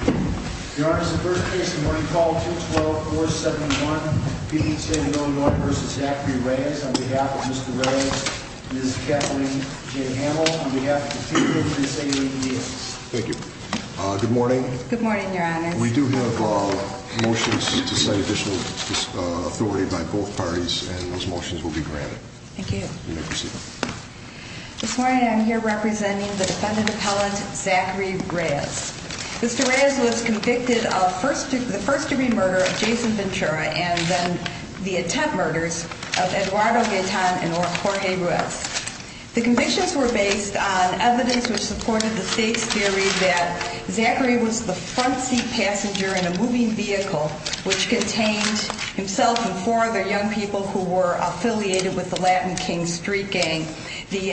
on behalf of Mr. Reyes, Ms. Kathleen J. Hamill, on behalf of the two different assailant individuals. Thank you. Good morning. Good morning, Your Honor. We do have motions to cite additional authority by both parties and those motions will be granted. Thank you. You may proceed. This morning I'm here representing the defendant appellant, Zachary Reyes. Mr. Reyes was convicted of the first degree murder of Jason Ventura and then the attempt murders of Eduardo Gaetan and Jorge Ruiz. The convictions were based on evidence which supported the state's theory that Zachary was the front seat passenger in a moving vehicle which contained himself and four other young people who were affiliated with the Latin King Street gang. The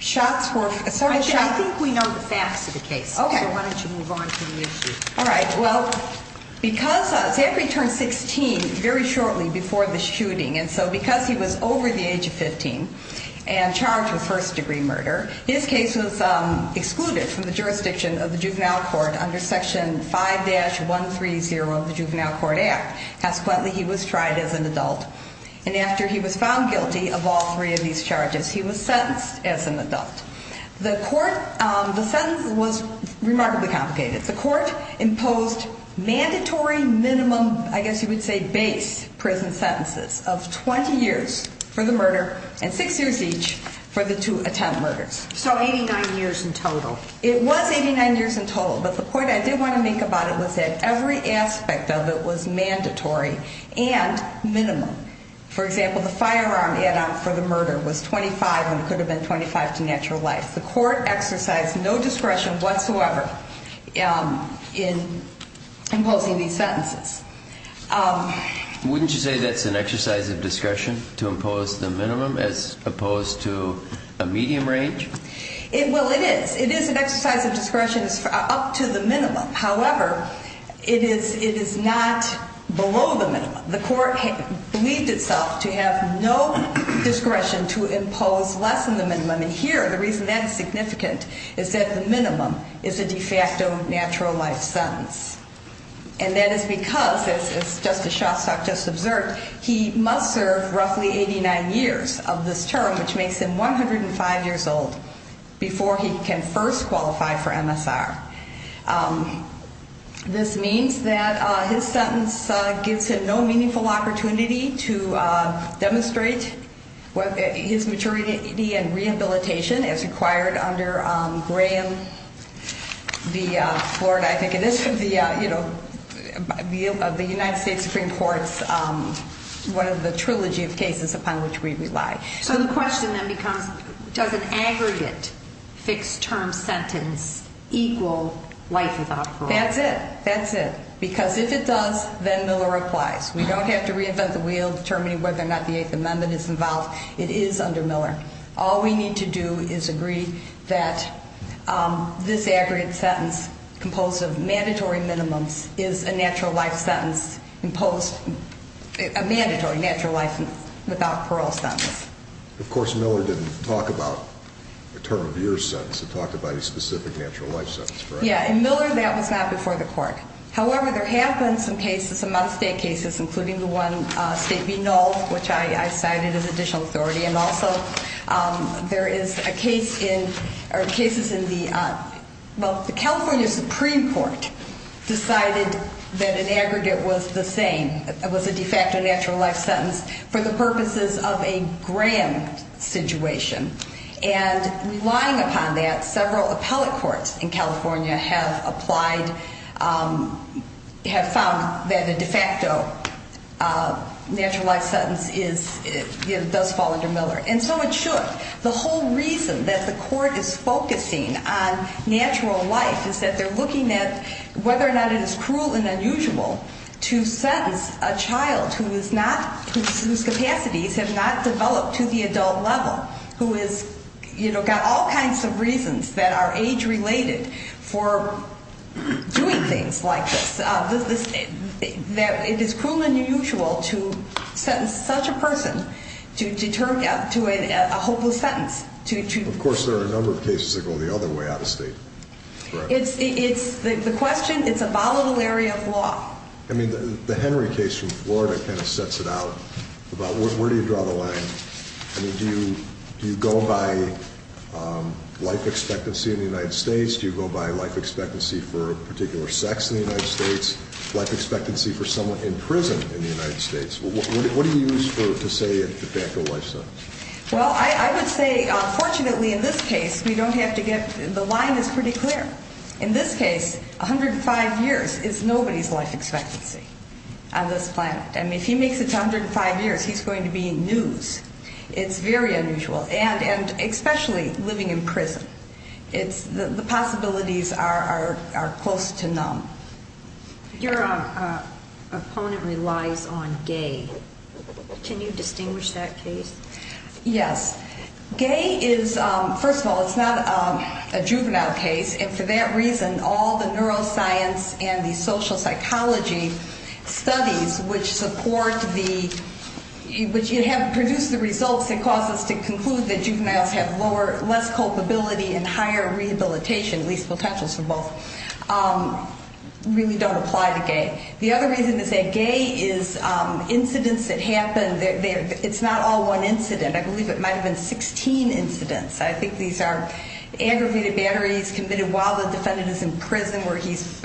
shots were... I think we know the facts of the case. Okay. So why don't you move on to the issue. All right. Well, because Zachary turned 16 very shortly before the shooting and so because he was over the age of 15 and charged with first degree murder, his case was excluded from the jurisdiction of the juvenile court under section 5-130 of the juvenile court act. Consequently, he was tried as an adult and after he was found guilty of all three of these charges, he was sentenced as an adult. The court... The sentence was remarkably complicated. The court imposed mandatory minimum, I guess you would say, base prison sentences of 20 years for the murder and six years each for the two attempt murders. So 89 years in total. It was 89 years in total, but the point I did want to make about it was that every aspect of it was mandatory and minimum. For example, the firearm add-on for the murder was 25 and could have been 25 to natural life. The court exercised no discretion whatsoever in imposing these sentences. Wouldn't you say that's an exercise of discretion to impose the minimum as opposed to a medium range? Well, it is. It is an exercise of discretion up to the minimum, not below the minimum. The court believed itself to have no discretion to impose less than the minimum. And here, the reason that is significant is that the minimum is a de facto natural life sentence. And that is because, as Justice Shostak just observed, he must serve roughly 89 years of this term, which makes him 105 years old, before he can first qualify for MSR. This means that his sentence gives him no meaningful opportunity to demonstrate his maturity and rehabilitation as required under Graham v. Florida, I think it is, you know, of the United States Supreme Court's, one of the trilogy of cases upon which we rely. So the question then becomes, does an aggregate fixed term sentence equal life without parole? That's it. That's it. Because if it does, then Miller applies. We don't have to reinvent the wheel determining whether or not the Eighth Amendment is involved. It is under Miller. All we need to do is agree that this aggregate sentence composed of mandatory minimums is a natural life sentence imposed, a mandatory natural life without parole sentence. Of course, Miller didn't talk about a term of years sentence. He talked about a specific natural life sentence, correct? Yeah. In Miller, that was not before the court. However, there have been some cases, some out-of-state cases, including the one, State v. Knoll, which I cited as additional authority. And also, there is a well, the California Supreme Court decided that an aggregate was the same. It was a de facto natural life sentence for the purposes of a Graham situation. And relying upon that, several appellate courts in California have applied, have found that a de facto natural life sentence does fall under Miller. And so it should. The whole reason that the court is focusing on natural life is that they're looking at whether or not it is cruel and unusual to sentence a child whose capacities have not developed to the adult level, who has got all kinds of reasons that are age-related for doing things like this. It is cruel and unusual to sentence such a person to a hopeless sentence. Of course, there are a number of cases that go the other way out-of-state, correct? The question, it's a volatile area of law. I mean, the Henry case from Florida kind of sets it out about where do you draw the line. I mean, do you go by life expectancy in the United States? Do you go by life expectancy for a particular sex in the United States, life expectancy for someone in prison in the United States? What do you use to say a de facto life sentence? Well, I would say, fortunately, in this case, we don't have to get-the line is pretty clear. In this case, 105 years is nobody's life expectancy on this planet. I mean, if he makes it to 105 years, he's going to be in news. It's very unusual. And especially living in prison. It's-the possibilities are close to none. Your opponent relies on gay. Can you distinguish that case? Yes. Gay is-first of all, it's not a juvenile case, and for that reason, all the neuroscience and the social proof that juveniles have lower-less culpability and higher rehabilitation, at least potentials for both, really don't apply to gay. The other reason to say gay is incidents that happen. It's not all one incident. I believe it might have been 16 incidents. I think these are aggravated batteries committed while the defendant is in prison where he's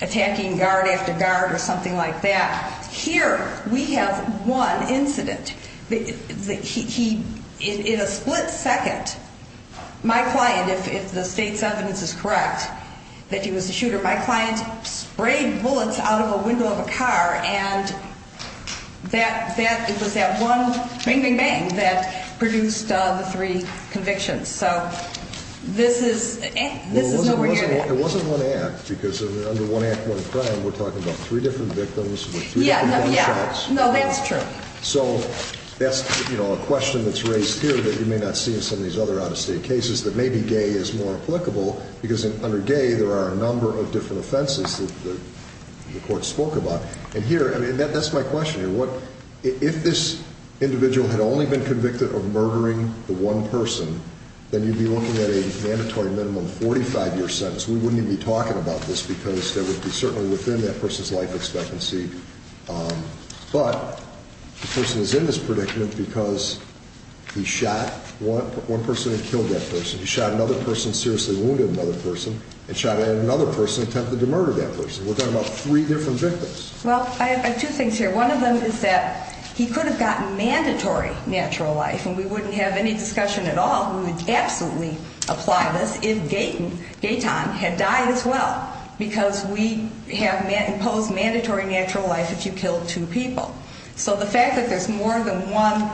attacking guard after guard or something like that. Here, we have one incident. He-in a split second, my client, if the state's evidence is correct, that he was a shooter, my client sprayed bullets out of a window of a car, and that-it was that one bang, bang, bang, that produced the three convictions. So this is-this is nowhere near that. It wasn't one act because under one act, one crime, we're talking about three different victims with three different gunshots. Yeah, no, yeah. No, that's true. So that's, you know, a question that's raised here that you may not see in some of these other out-of-state cases that maybe gay is more applicable because under gay, there are a number of different offenses that the court spoke about. And here, I mean, that's my question here. What-if this individual had only been convicted of murdering the one person, then you'd be looking at a mandatory minimum 45-year sentence. We wouldn't even be talking about this because that would be certainly within that person's life expectancy. But the person is in this predicament because he shot one person and killed that person. He shot another person, seriously wounded another person, and shot another person, attempted to murder that person. We're talking about three different victims. Well, I have two things here. One of them is that he could have gotten mandatory natural life, and we wouldn't have any discussion at all. We would absolutely applaud this if Gaytan had died as well because we have imposed mandatory natural life if you kill two people. So the fact that there's more than one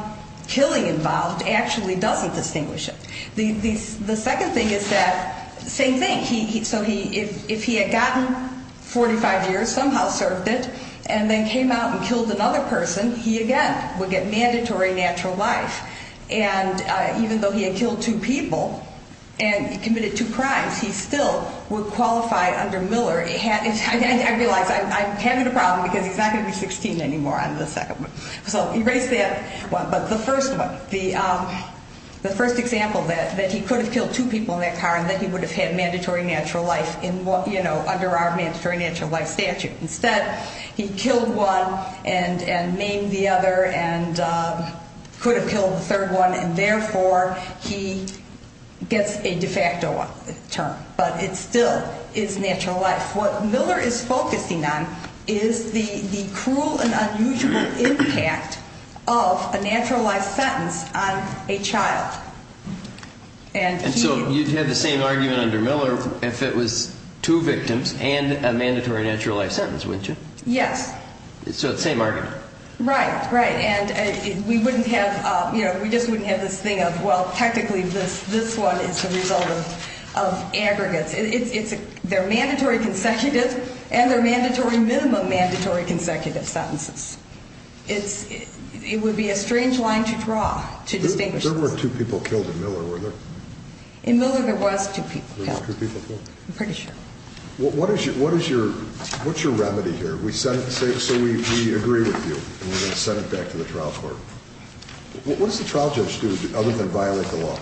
killing involved actually doesn't distinguish it. The second thing is that same thing. So if he had gotten 45 years, somehow served it, and then came out and killed another person, he again would get mandatory natural life. And even though he had killed two people and committed two crimes, he still would qualify under Miller. I realize I'm having a problem because he's not going to be 16 anymore on the second one. So erase that one. But the first one, the first example that he could have killed two people in that car and that he would have had mandatory natural life under our mandatory natural life statute. Instead, he killed one and maimed the other and could have killed the third one, and therefore he gets a de facto term. But it still is natural life. What Miller is focusing on is the cruel and unusual impact of a natural life sentence on a child. And so you'd have the same argument under Miller if it was two victims and a mandatory natural life sentence, wouldn't you? Yes. So it's the same argument. Right, right. And we just wouldn't have this thing of, well, technically this one is the result of aggregates. They're mandatory consecutive and they're mandatory minimum mandatory consecutive sentences. It would be a strange line to draw to distinguish this. There were two people killed in Miller, weren't there? In Miller there was two people killed. There were two people killed? I'm pretty sure. What's your remedy here? So we agree with you and we're going to send it back to the trial court. What does the trial judge do other than violate the law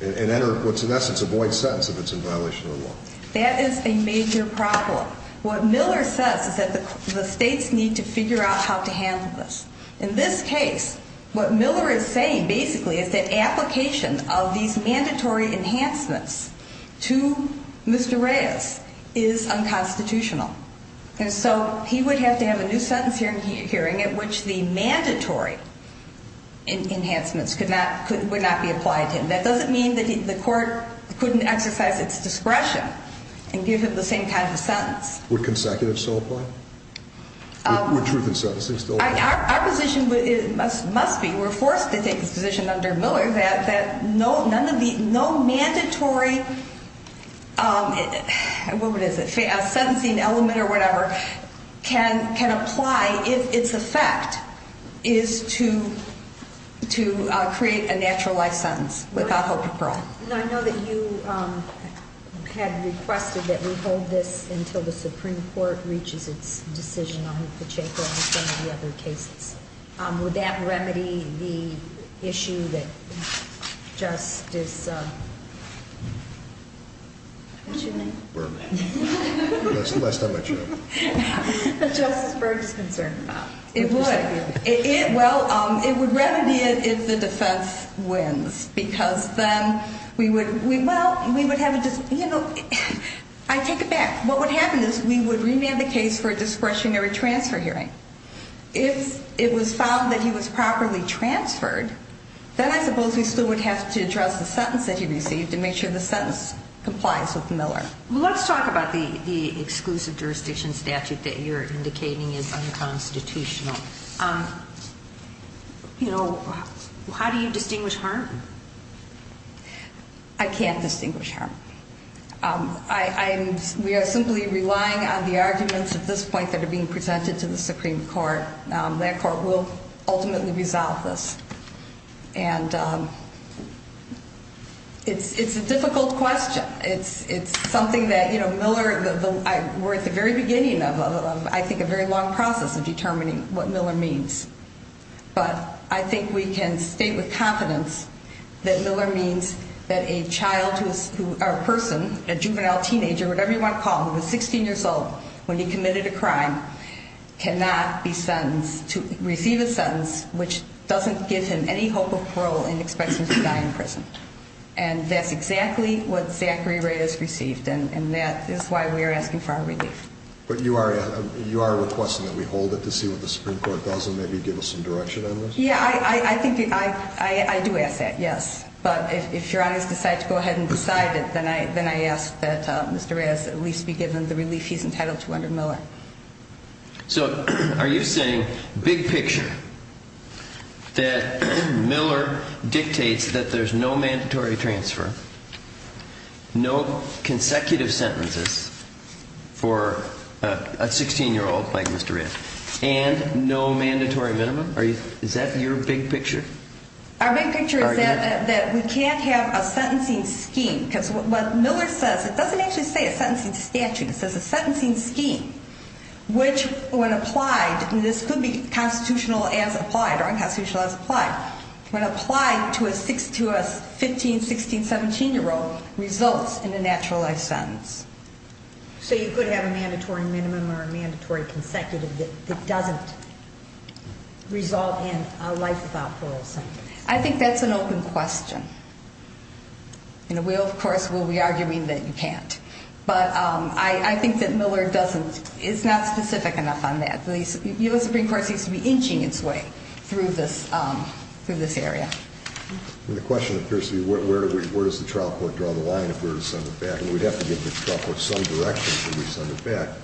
and enter what's in essence a void sentence if it's in violation of the law? That is a major problem. What Miller says is that the states need to figure out how to handle this. In this case, what Miller is saying, basically, is that application of these mandatory enhancements to Mr. Reyes is unconstitutional. And so he would have to have a new sentence hearing at which the mandatory enhancements would not be applied to him. That doesn't mean that the court couldn't exercise its discretion and give him the same kind of sentence. Would consecutive still apply? Would truth in sentencing still apply? Our position must be, we're forced to take this position under Miller, that no mandatory sentencing element or whatever can apply if its effect is to create a natural life sentence without hope of parole. I know that you had requested that we hold this until the Supreme Court reaches its decision on Hufechek or on some of the other cases. Would that remedy the issue that Justice... What's your name? Berg. That's the last time I'd show up. That Justice Berg is concerned about. It would. Well, it would remedy it if the defense wins because then we would, well, we would have a, you know, I take it back. What would happen is we would remand the case for a discretionary transfer hearing. If it was found that he was properly transferred, then I suppose we still would have to address the sentence that he received to make sure the sentence complies with Miller. Let's talk about the exclusive jurisdiction statute that you're indicating is unconstitutional. You know, how do you distinguish harm? I can't distinguish harm. We are simply relying on the arguments at this point that are being presented to the Supreme Court. That court will ultimately resolve this. And it's a difficult question. It's something that, you know, Miller, we're at the very beginning of, I think, a very long process of determining what Miller means. But I think we can state with confidence that Miller means that a child who is a person, a juvenile teenager, whatever you want to call him, who was 16 years old when he committed a crime cannot be sentenced to receive a sentence which doesn't give him any hope of parole and expects him to die in prison. And that's exactly what Zachary Ray has received, and that is why we are asking for our relief. But you are requesting that we hold it to see what the Supreme Court does and maybe give us some direction on this? Yeah, I think I do ask that, yes. But if Your Honor has decided to go ahead and decide it, then I ask that Mr. Ray has at least be given the relief he's entitled to under Miller. So are you saying big picture that Miller dictates that there's no mandatory transfer, no consecutive sentences for a 16-year-old like Mr. Ray, and no mandatory minimum? Is that your big picture? Our big picture is that we can't have a sentencing scheme because what Miller says, it doesn't actually say a sentencing statute, it says a sentencing scheme which when applied, and this could be constitutional as applied or unconstitutional as applied, when applied to a 15-, 16-, 17-year-old results in a naturalized sentence. So you could have a mandatory minimum or a mandatory consecutive that doesn't result in a life without parole sentence? I think that's an open question. We, of course, will be arguing that you can't. But I think that Miller is not specific enough on that. The U.S. Supreme Court seems to be inching its way through this area. The question appears to be where does the trial court draw the line if we were to send it back, and we'd have to give the trial court some direction if we were to send it back,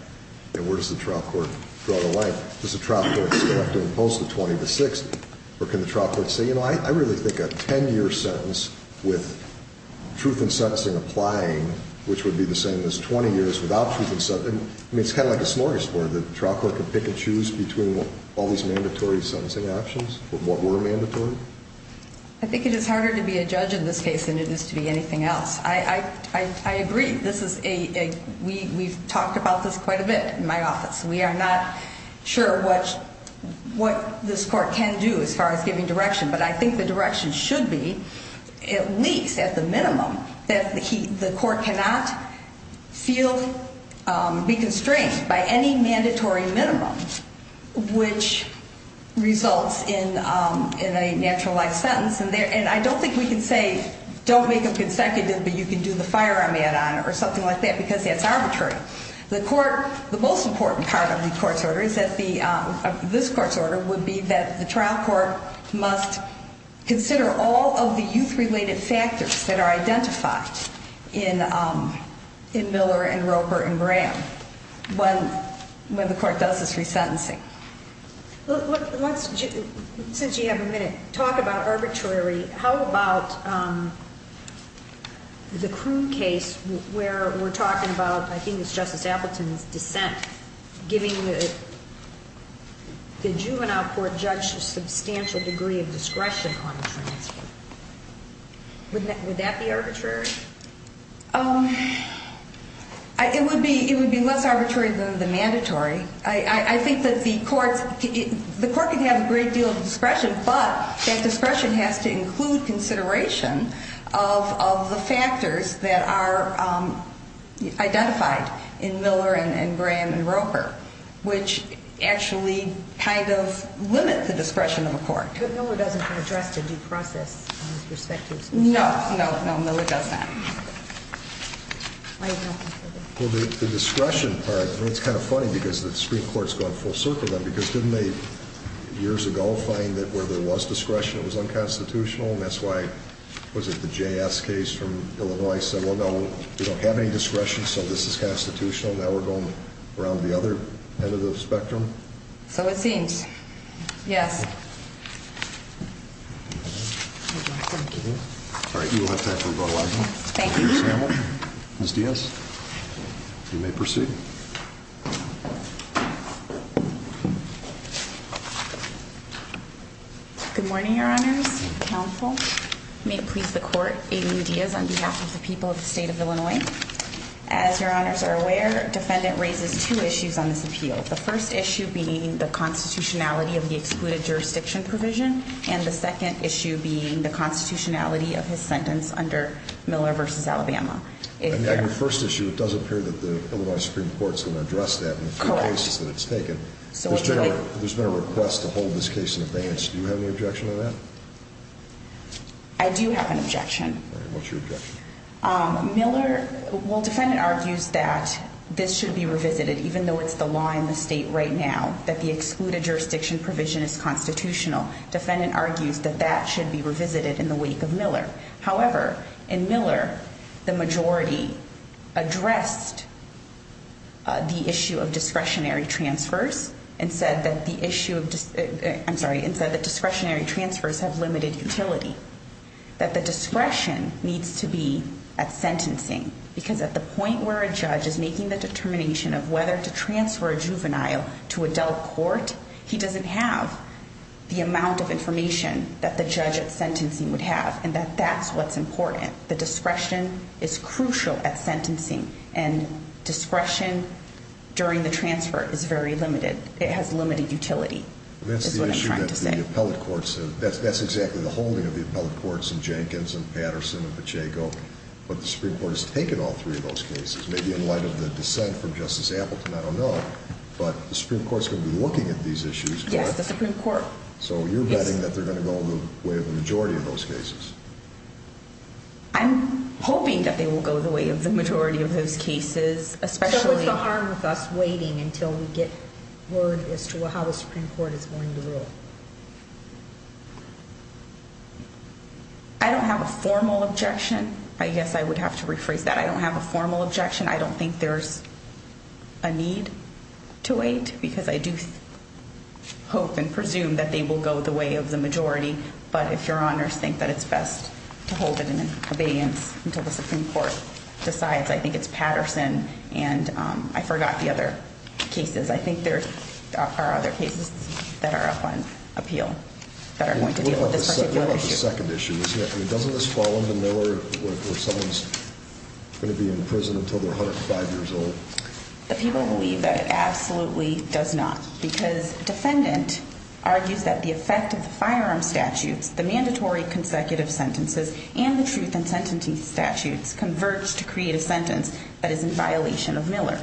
and where does the trial court draw the line? Does the trial court still have to impose the 20 to 60, or can the trial court say, you know, I really think a 10-year sentence with truth in sentencing applying, which would be the same as 20 years without truth in sentencing, I mean, it's kind of like a snorkel sport, the trial court can pick and choose between all these mandatory sentencing options or more mandatory. I think it is harder to be a judge in this case than it is to be anything else. I agree. We've talked about this quite a bit in my office. We are not sure what this court can do as far as giving direction, but I think the direction should be, at least at the minimum, that the court cannot be constrained by any mandatory minimum, which results in a naturalized sentence. And I don't think we can say, don't make them consecutive, but you can do the firearm add-on or something like that because that's arbitrary. The most important part of this court's order would be that the trial court must consider all of the youth-related factors that are identified in Miller and Roper and Graham when the court does this resentencing. Let's, since you have a minute, talk about arbitrary. How about the Kroon case where we're talking about, I think it was Justice Appleton's dissent, giving the juvenile court judge a substantial degree of discretion on the transfer. Would that be arbitrary? It would be less arbitrary than the mandatory. I think that the court could have a great deal of discretion, but that discretion has to include consideration of the factors that are identified in Miller and Graham and Roper, which actually kind of limit the discretion of a court. But Miller doesn't address the due process on these perspectives. No, no, Miller does not. Michael. Well, the discretion part, it's kind of funny because the Supreme Court's gone full circle then because didn't they years ago find that where there was discretion, it was unconstitutional, and that's why, was it the JS case from Illinois, said, well, no, we don't have any discretion, so this is constitutional, and now we're going around the other end of the spectrum? So it seems, yes. Thank you. All right, you will have time for a vote of aye vote. Thank you. Ms. Diaz, you may proceed. Good morning, Your Honors. Counsel may please the court. Amy Diaz on behalf of the people of the state of Illinois. As Your Honors are aware, defendant raises two issues on this appeal, the first issue being the constitutionality of the excluded jurisdiction provision and the second issue being the constitutionality of his sentence under Miller v. Alabama. On your first issue, it does appear that the Illinois Supreme Court is going to address that in the three cases that it's taken. There's been a request to hold this case in advance. Do you have any objection to that? I do have an objection. All right, what's your objection? Miller, well, defendant argues that this should be revisited, even though it's the law in the state right now, that the excluded jurisdiction provision is constitutional. Defendant argues that that should be revisited in the wake of Miller. However, in Miller, the majority addressed the issue of discretionary transfers and said that discretionary transfers have limited utility, that the discretion needs to be at sentencing because at the point where a judge is making the determination of whether to transfer a juvenile to adult court, he doesn't have the amount of information that the judge at sentencing would have and that that's what's important. The discretion is crucial at sentencing, and discretion during the transfer is very limited. It has limited utility is what I'm trying to say. That's the issue that the appellate courts have. That's exactly the holding of the appellate courts in Jenkins and Patterson and Pacheco, but the Supreme Court has taken all three of those cases, maybe in light of the dissent from Justice Appleton, I don't know, but the Supreme Court is going to be looking at these issues. Yes, the Supreme Court. So you're betting that they're going to go the way of the majority of those cases. I'm hoping that they will go the way of the majority of those cases, especially— So what's the harm with us waiting until we get word as to how the Supreme Court is going to rule? I don't have a formal objection. I guess I would have to rephrase that. I don't have a formal objection. I don't think there's a need to wait because I do hope and presume that they will go the way of the majority, but if Your Honors think that it's best to hold it in abeyance until the Supreme Court decides, I think it's Patterson and I forgot the other cases. I think there are other cases that are up on appeal that are going to deal with this particular issue. Doesn't this fall under Miller where someone's going to be in prison until they're 105 years old? The people believe that it absolutely does not because a defendant argues that the effect of the firearm statutes, the mandatory consecutive sentences, and the truth in sentencing statutes converge to create a sentence that is in violation of Miller.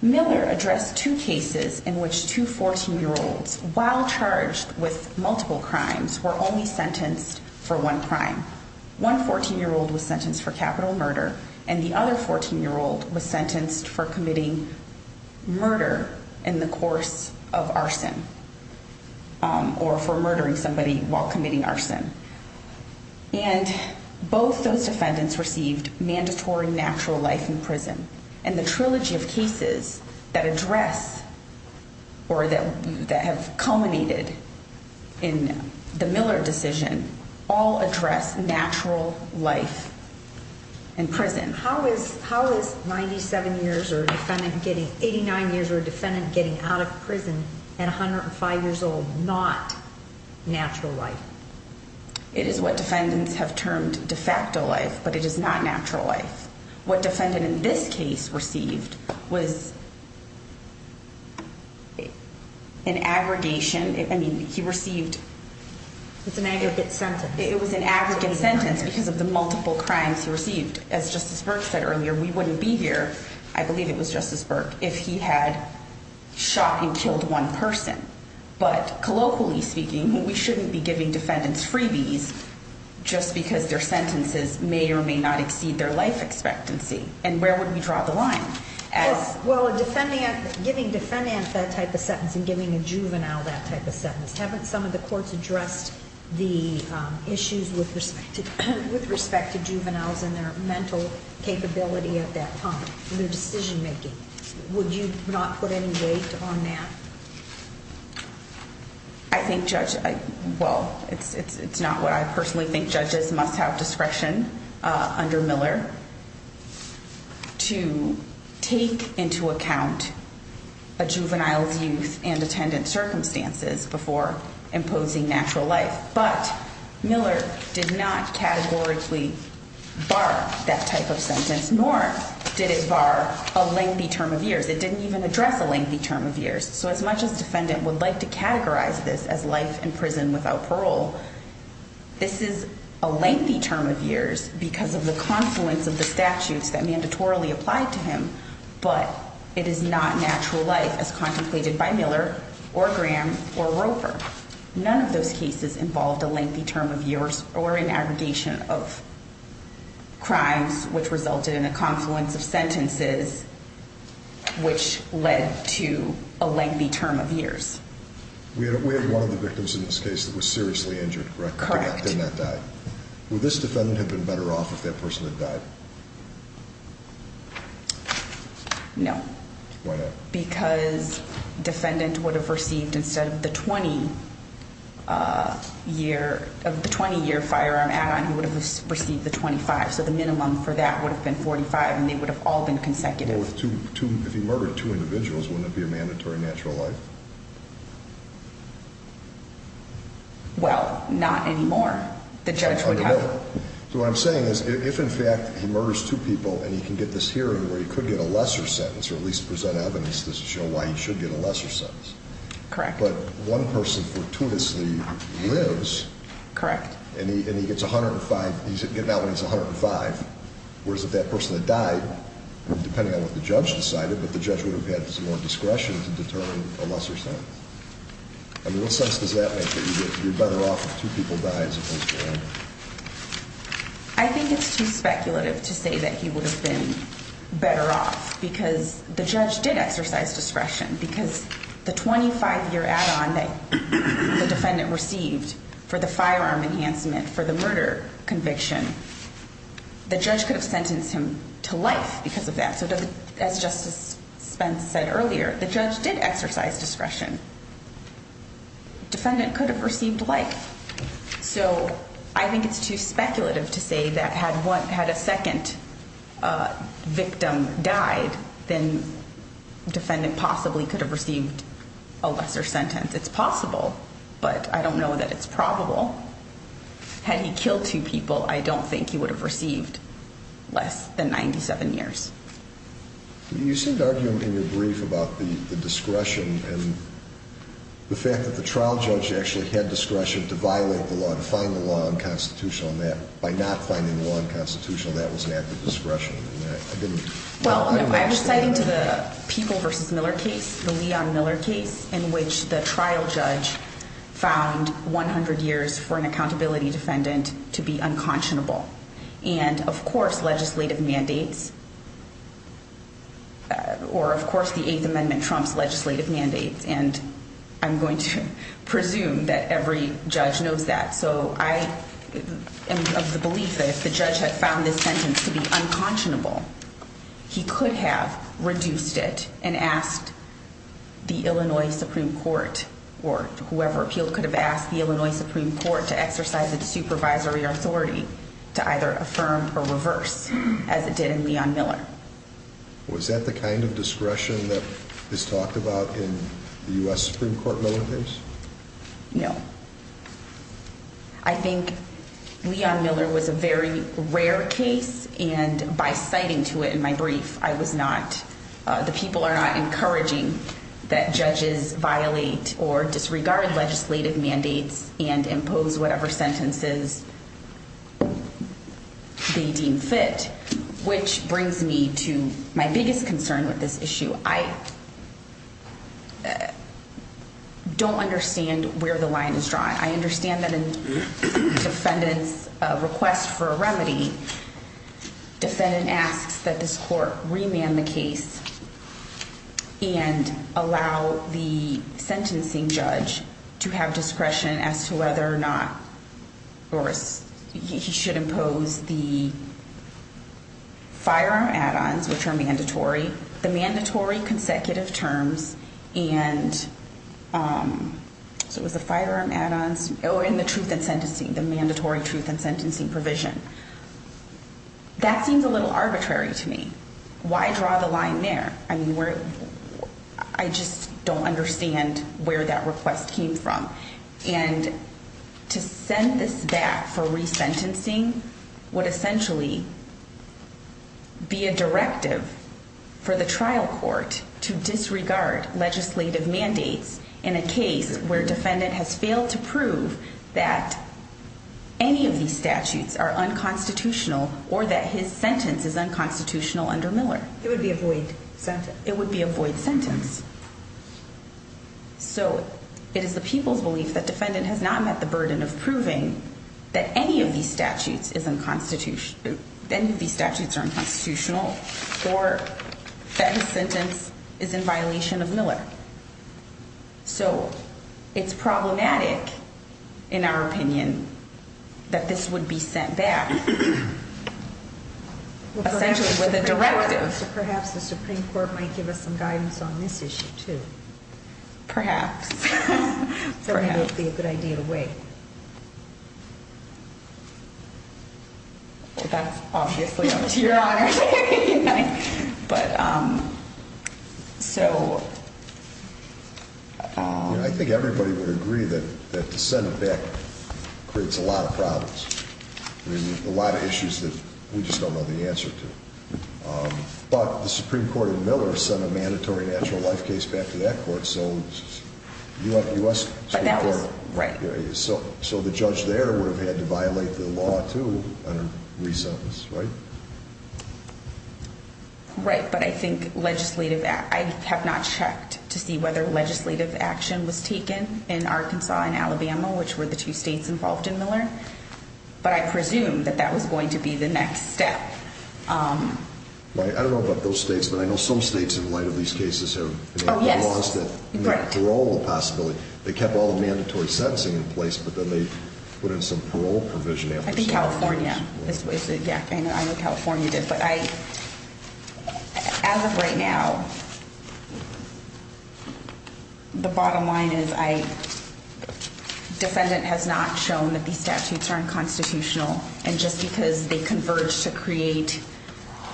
Miller addressed two cases in which two 14-year-olds, while charged with multiple crimes, were only sentenced for one crime. One 14-year-old was sentenced for capital murder and the other 14-year-old was sentenced for committing murder in the course of arson or for murdering somebody while committing arson. And both those defendants received mandatory natural life in prison. And the trilogy of cases that address or that have culminated in the Miller decision all address natural life in prison. How is 87 years or a defendant getting out of prison at 105 years old not natural life? It is what defendants have termed de facto life, but it is not natural life. What defendant in this case received was an aggregation. I mean, he received... It's an aggregate sentence. It was an aggregate sentence because of the multiple crimes he received. As Justice Burke said earlier, we wouldn't be here, I believe it was Justice Burke, if he had shot and killed one person. But colloquially speaking, we shouldn't be giving defendants freebies just because their sentences may or may not exceed their life expectancy. And where would we draw the line? Well, giving defendants that type of sentence and giving a juvenile that type of sentence, haven't some of the courts addressed the issues with respect to juveniles and their mental capability at that time, their decision-making? Would you not put any weight on that? I think judge... Well, it's not what I personally think judges must have discretion under Miller to take into account a juvenile's youth and attendant circumstances before imposing natural life. But Miller did not categorically bar that type of sentence, nor did it bar a lengthy term of years. It didn't even address a lengthy term of years. So as much as a defendant would like to categorize this as life in prison without parole, this is a lengthy term of years because of the confluence of the statutes that mandatorily applied to him, but it is not natural life as contemplated by Miller or Graham or Roper. None of those cases involved a lengthy term of years or an aggregation of crimes which resulted in a confluence of sentences which led to a lengthy term of years. We had one of the victims in this case that was seriously injured, correct? Correct. And that died. Would this defendant have been better off if that person had died? No. Why not? Because defendant would have received instead of the 20-year firearm add-on, he would have received the 25, so the minimum for that would have been 45, and they would have all been consecutive. Well, if he murdered two individuals, wouldn't it be a mandatory natural life? Well, not anymore. The judge would have. So what I'm saying is if, in fact, he murders two people and he can get this hearing where he could get a lesser sentence or at least present evidence to show why he should get a lesser sentence. Correct. But one person fortuitously lives. Correct. And he's getting out when he's 105, whereas if that person had died, depending on what the judge decided, but the judge would have had some more discretion to determine a lesser sentence. I mean, what sense does that make that you're better off if two people die as opposed to one? I think it's too speculative to say that he would have been better off because the judge did exercise discretion because the 25-year add-on that the defendant received for the firearm enhancement for the murder conviction, the judge could have sentenced him to life because of that. So as Justice Spence said earlier, the judge did exercise discretion. The defendant could have received life. So I think it's too speculative to say that had a second victim died, then the defendant possibly could have received a lesser sentence. It's possible, but I don't know that it's probable. Had he killed two people, I don't think he would have received less than 97 years. You seemed to argue in your brief about the discretion and the fact that the trial judge actually had discretion to violate the law and find the law unconstitutional, and that by not finding the law unconstitutional, that was an act of discretion. Well, I was citing to the Peeble v. Miller case, the Leon Miller case, in which the trial judge found 100 years for an accountability defendant to be unconscionable. And, of course, legislative mandates, or, of course, the Eighth Amendment trumps legislative mandates, and I'm going to presume that every judge knows that. So I am of the belief that if the judge had found this sentence to be unconscionable, he could have reduced it and asked the Illinois Supreme Court, or whoever appealed could have asked the Illinois Supreme Court to exercise its supervisory authority to either affirm or reverse, as it did in Leon Miller. Was that the kind of discretion that is talked about in the U.S. Supreme Court Miller case? No. I think Leon Miller was a very rare case, and by citing to it in my brief, I was not, the people are not encouraging that judges violate or disregard legislative mandates and impose whatever sentences they deem fit, which brings me to my biggest concern with this issue. I don't understand where the line is drawn. I understand that in the defendant's request for a remedy, defendant asks that this court remand the case and allow the sentencing judge to have discretion as to whether or not, or he should impose the firearm add-ons, which are mandatory. The mandatory consecutive terms and, so it was the firearm add-ons. Oh, and the truth in sentencing, the mandatory truth in sentencing provision. That seems a little arbitrary to me. Why draw the line there? I mean, I just don't understand where that request came from. And to send this back for resentencing would essentially be a directive for the trial court to disregard legislative mandates in a case where defendant has failed to prove that any of these statutes are unconstitutional or that his sentence is unconstitutional under Miller. It would be a void sentence. It would be a void sentence. So it is the people's belief that defendant has not met the burden of proving that any of these statutes are unconstitutional or that his sentence is in violation of Miller. So it's problematic, in our opinion, that this would be sent back essentially with a directive. Perhaps the Supreme Court might give us some guidance on this issue, too. Perhaps. Perhaps it would be a good idea to wait. That's obviously up to Your Honor. But, so... I think everybody would agree that to send it back creates a lot of problems. I mean, a lot of issues that we just don't know the answer to. But the Supreme Court in Miller sent a mandatory natural life case back to that court, so U.S. Supreme Court... Right. So the judge there would have had to violate the law, too, under resentence, right? Right, but I think legislative... I have not checked to see whether legislative action was taken in Arkansas and Alabama, which were the two states involved in Miller, but I presume that that was going to be the next step. I don't know about those states, but I know some states, in light of these cases, have lost the parole possibility. They kept all the mandatory sentencing in place, but then they put in some parole provision after... I think California. Yeah, I know California did. But I... As of right now, the bottom line is I... Defendant has not shown that these statutes are unconstitutional, and just because they converge to create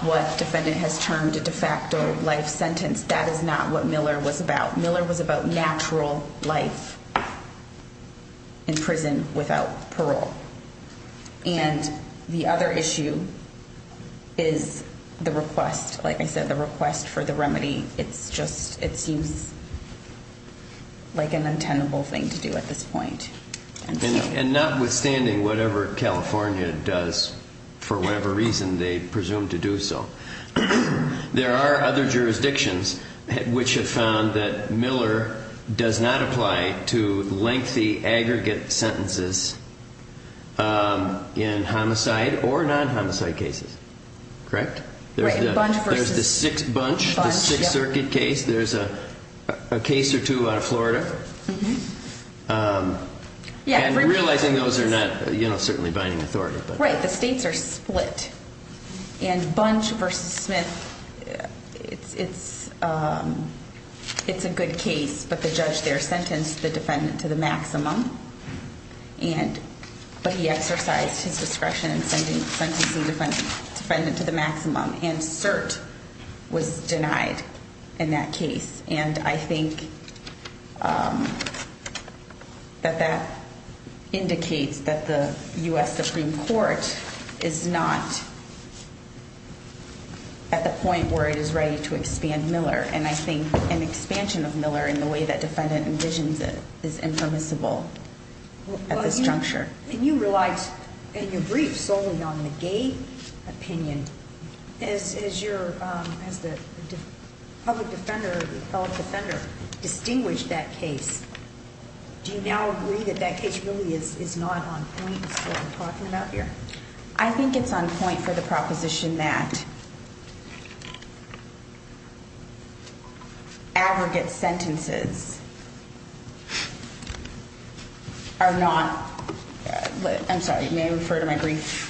what defendant has termed a de facto life sentence, that is not what Miller was about. Miller was about natural life in prison without parole. And the other issue is the request. Like I said, the request for the remedy. It's just... It seems like an untenable thing to do at this point. And notwithstanding whatever California does, for whatever reason they presume to do so, there are other jurisdictions which have found that Miller does not apply to lengthy, aggregate sentences in homicide or non-homicide cases. Correct? Right. And Bunch versus... There's the sixth Bunch, the Sixth Circuit case. There's a case or two out of Florida. And realizing those are not, you know, certainly binding authority. Right. The states are split. And Bunch versus Smith, it's a good case, but the judge there sentenced the defendant to the maximum. But he exercised his discretion in sentencing the defendant to the maximum. And cert was denied in that case. And I think that that indicates that the U.S. Supreme Court is not at the point where it is ready to expand Miller. And I think an expansion of Miller in the way that defendant envisions it is impermissible at this juncture. And you relied in your brief solely on the gay opinion. Has the public defender distinguished that case? Do you now agree that that case really is not on point for what we're talking about here? I think it's on point for the proposition that aggregate sentences are not. I'm sorry. May I refer to my brief?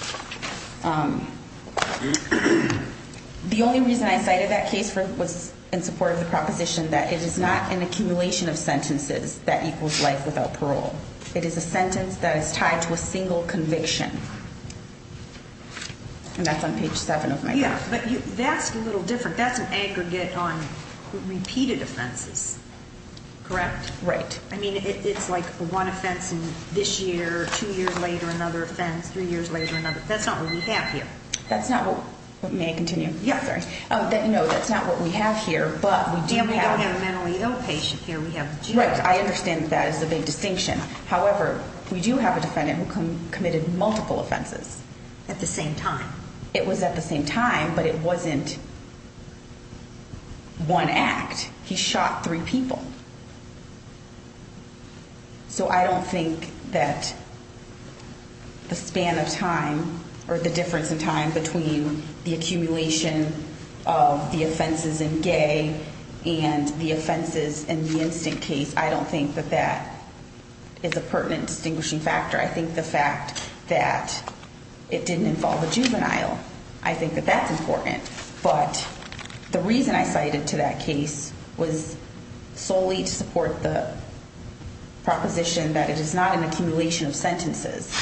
The only reason I cited that case was in support of the proposition that it is not an accumulation of sentences that equals life without parole. It is a sentence that is tied to a single conviction. And that's on page 7 of my brief. Yeah, but that's a little different. That's an aggregate on repeated offenses. Correct? Right. I mean, it's like one offense this year, two years later another offense, three years later another. That's not what we have here. That's not what we have here. And we don't have a mentally ill patient here. Right, I understand that as a big distinction. However, we do have a defendant who committed multiple offenses. At the same time? It was at the same time, but it wasn't one act. He shot three people. So I don't think that the span of time or the difference in time between the accumulation of the offenses in gay and the offenses in the instant case, I don't think that that is a pertinent distinguishing factor. I think the fact that it didn't involve a juvenile, I think that that's important. But the reason I cited to that case was solely to support the proposition that it is not an accumulation of sentences.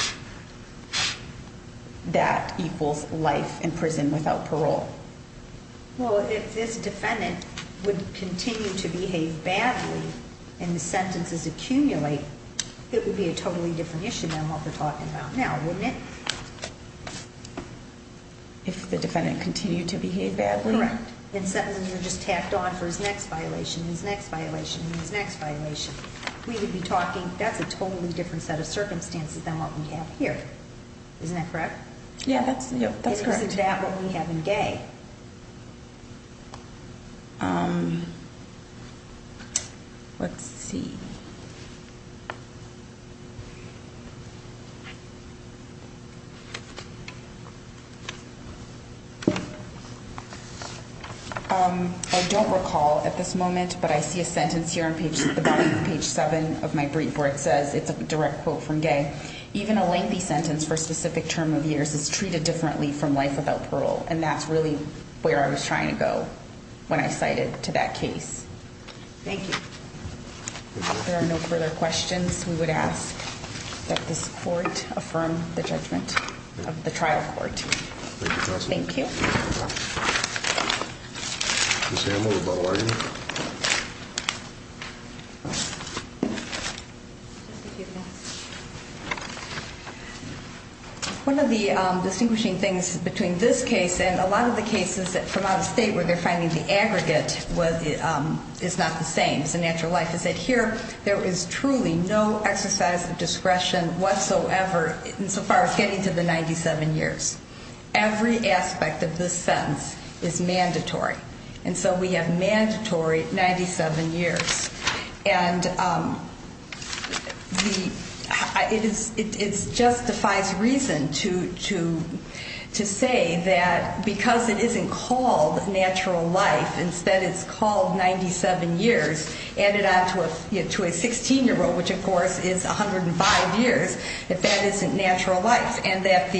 That equals life in prison without parole. Well, if this defendant would continue to behave badly and the sentences accumulate, it would be a totally different issue than what we're talking about now, wouldn't it? If the defendant continued to behave badly? Correct. And sentences are just tacked on for his next violation, his next violation, and his next violation. We would be talking, that's a totally different set of circumstances than what we have here. Isn't that correct? Yeah, that's correct. And isn't that what we have in gay? Let's see. I don't recall at this moment, but I see a sentence here on the bottom of page 7 of my brief where it says, it's a direct quote from Gay. Even a lengthy sentence for a specific term of years is treated differently from life without parole. And that's really where I was trying to go when I cited to that case. Thank you. If there are no further questions, we would ask that this court affirm the judgment of the trial court. Thank you, counsel. Thank you. Ms. Hamm, what about lawyer? One of the distinguishing things between this case and a lot of the cases from out of state where they're finding the aggregate is not the same. It's the natural life. It said here, there is truly no exercise of discretion whatsoever insofar as getting to the 97 years. Every aspect of this sentence is mandatory. And so we have mandatory 97 years. And it justifies reason to say that because it isn't called natural life, instead it's called 97 years, added on to a 16-year-old, which of course is 105 years, that that isn't natural life. And that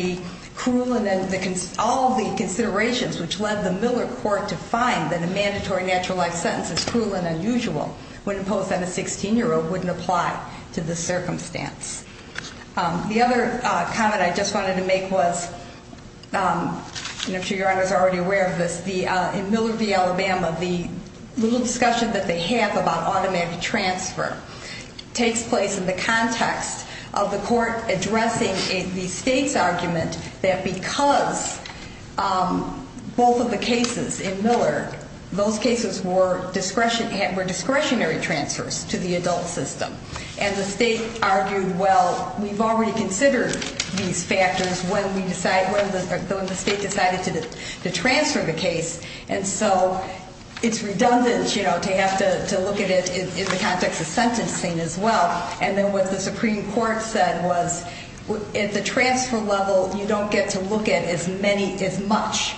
all of the considerations which led the Miller court to find that a mandatory natural life sentence is cruel and unusual when imposed on a 16-year-old wouldn't apply to the circumstance. The other comment I just wanted to make was, and I'm sure your honors are already aware of this, in Miller v. Alabama, the little discussion that they have about automatic transfer takes place in the context of the court addressing the state's argument that because both of the cases in Miller, those cases were discretionary transfers to the adult system. And the state argued, well, we've already considered these factors when the state decided to transfer the case. And so it's redundant to have to look at it in the context of sentencing as well. And then what the Supreme Court said was, at the transfer level, you don't get to look at as many, as much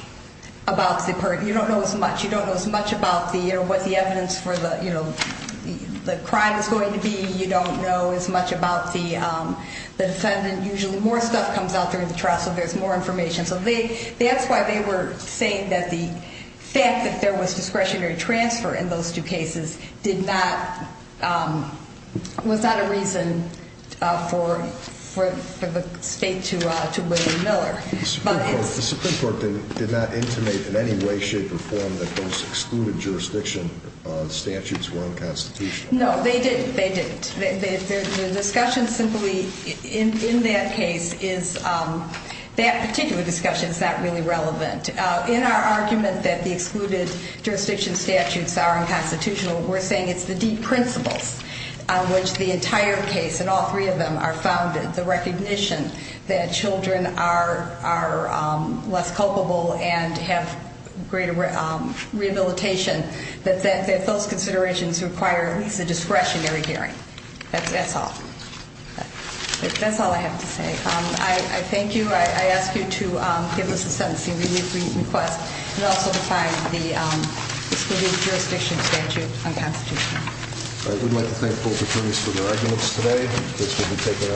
about the, you don't know as much. You don't know as much about the, you know, what the evidence for the, you know, the crime is going to be. You don't know as much about the defendant. Usually more stuff comes out during the trial, so there's more information. So that's why they were saying that the fact that there was discretionary transfer in those two cases did not, was not a reason for the state to win Miller. The Supreme Court did not intimate in any way, shape, or form that those excluded jurisdiction statutes were unconstitutional. No, they didn't. The discussion simply in that case is, that particular discussion is not really relevant. In our argument that the excluded jurisdiction statutes are unconstitutional, we're saying it's the deep principles on which the entire case, and all three of them, are founded. The recognition that children are less culpable and have greater rehabilitation, that those considerations require at least a discretionary hearing. That's all. That's all I have to say. I thank you. I ask you to give us a sentencing request and also to find the excluded jurisdiction statute unconstitutional. I would like to thank both attorneys for their arguments today. This will be taken under advisement and we'll take a short recess.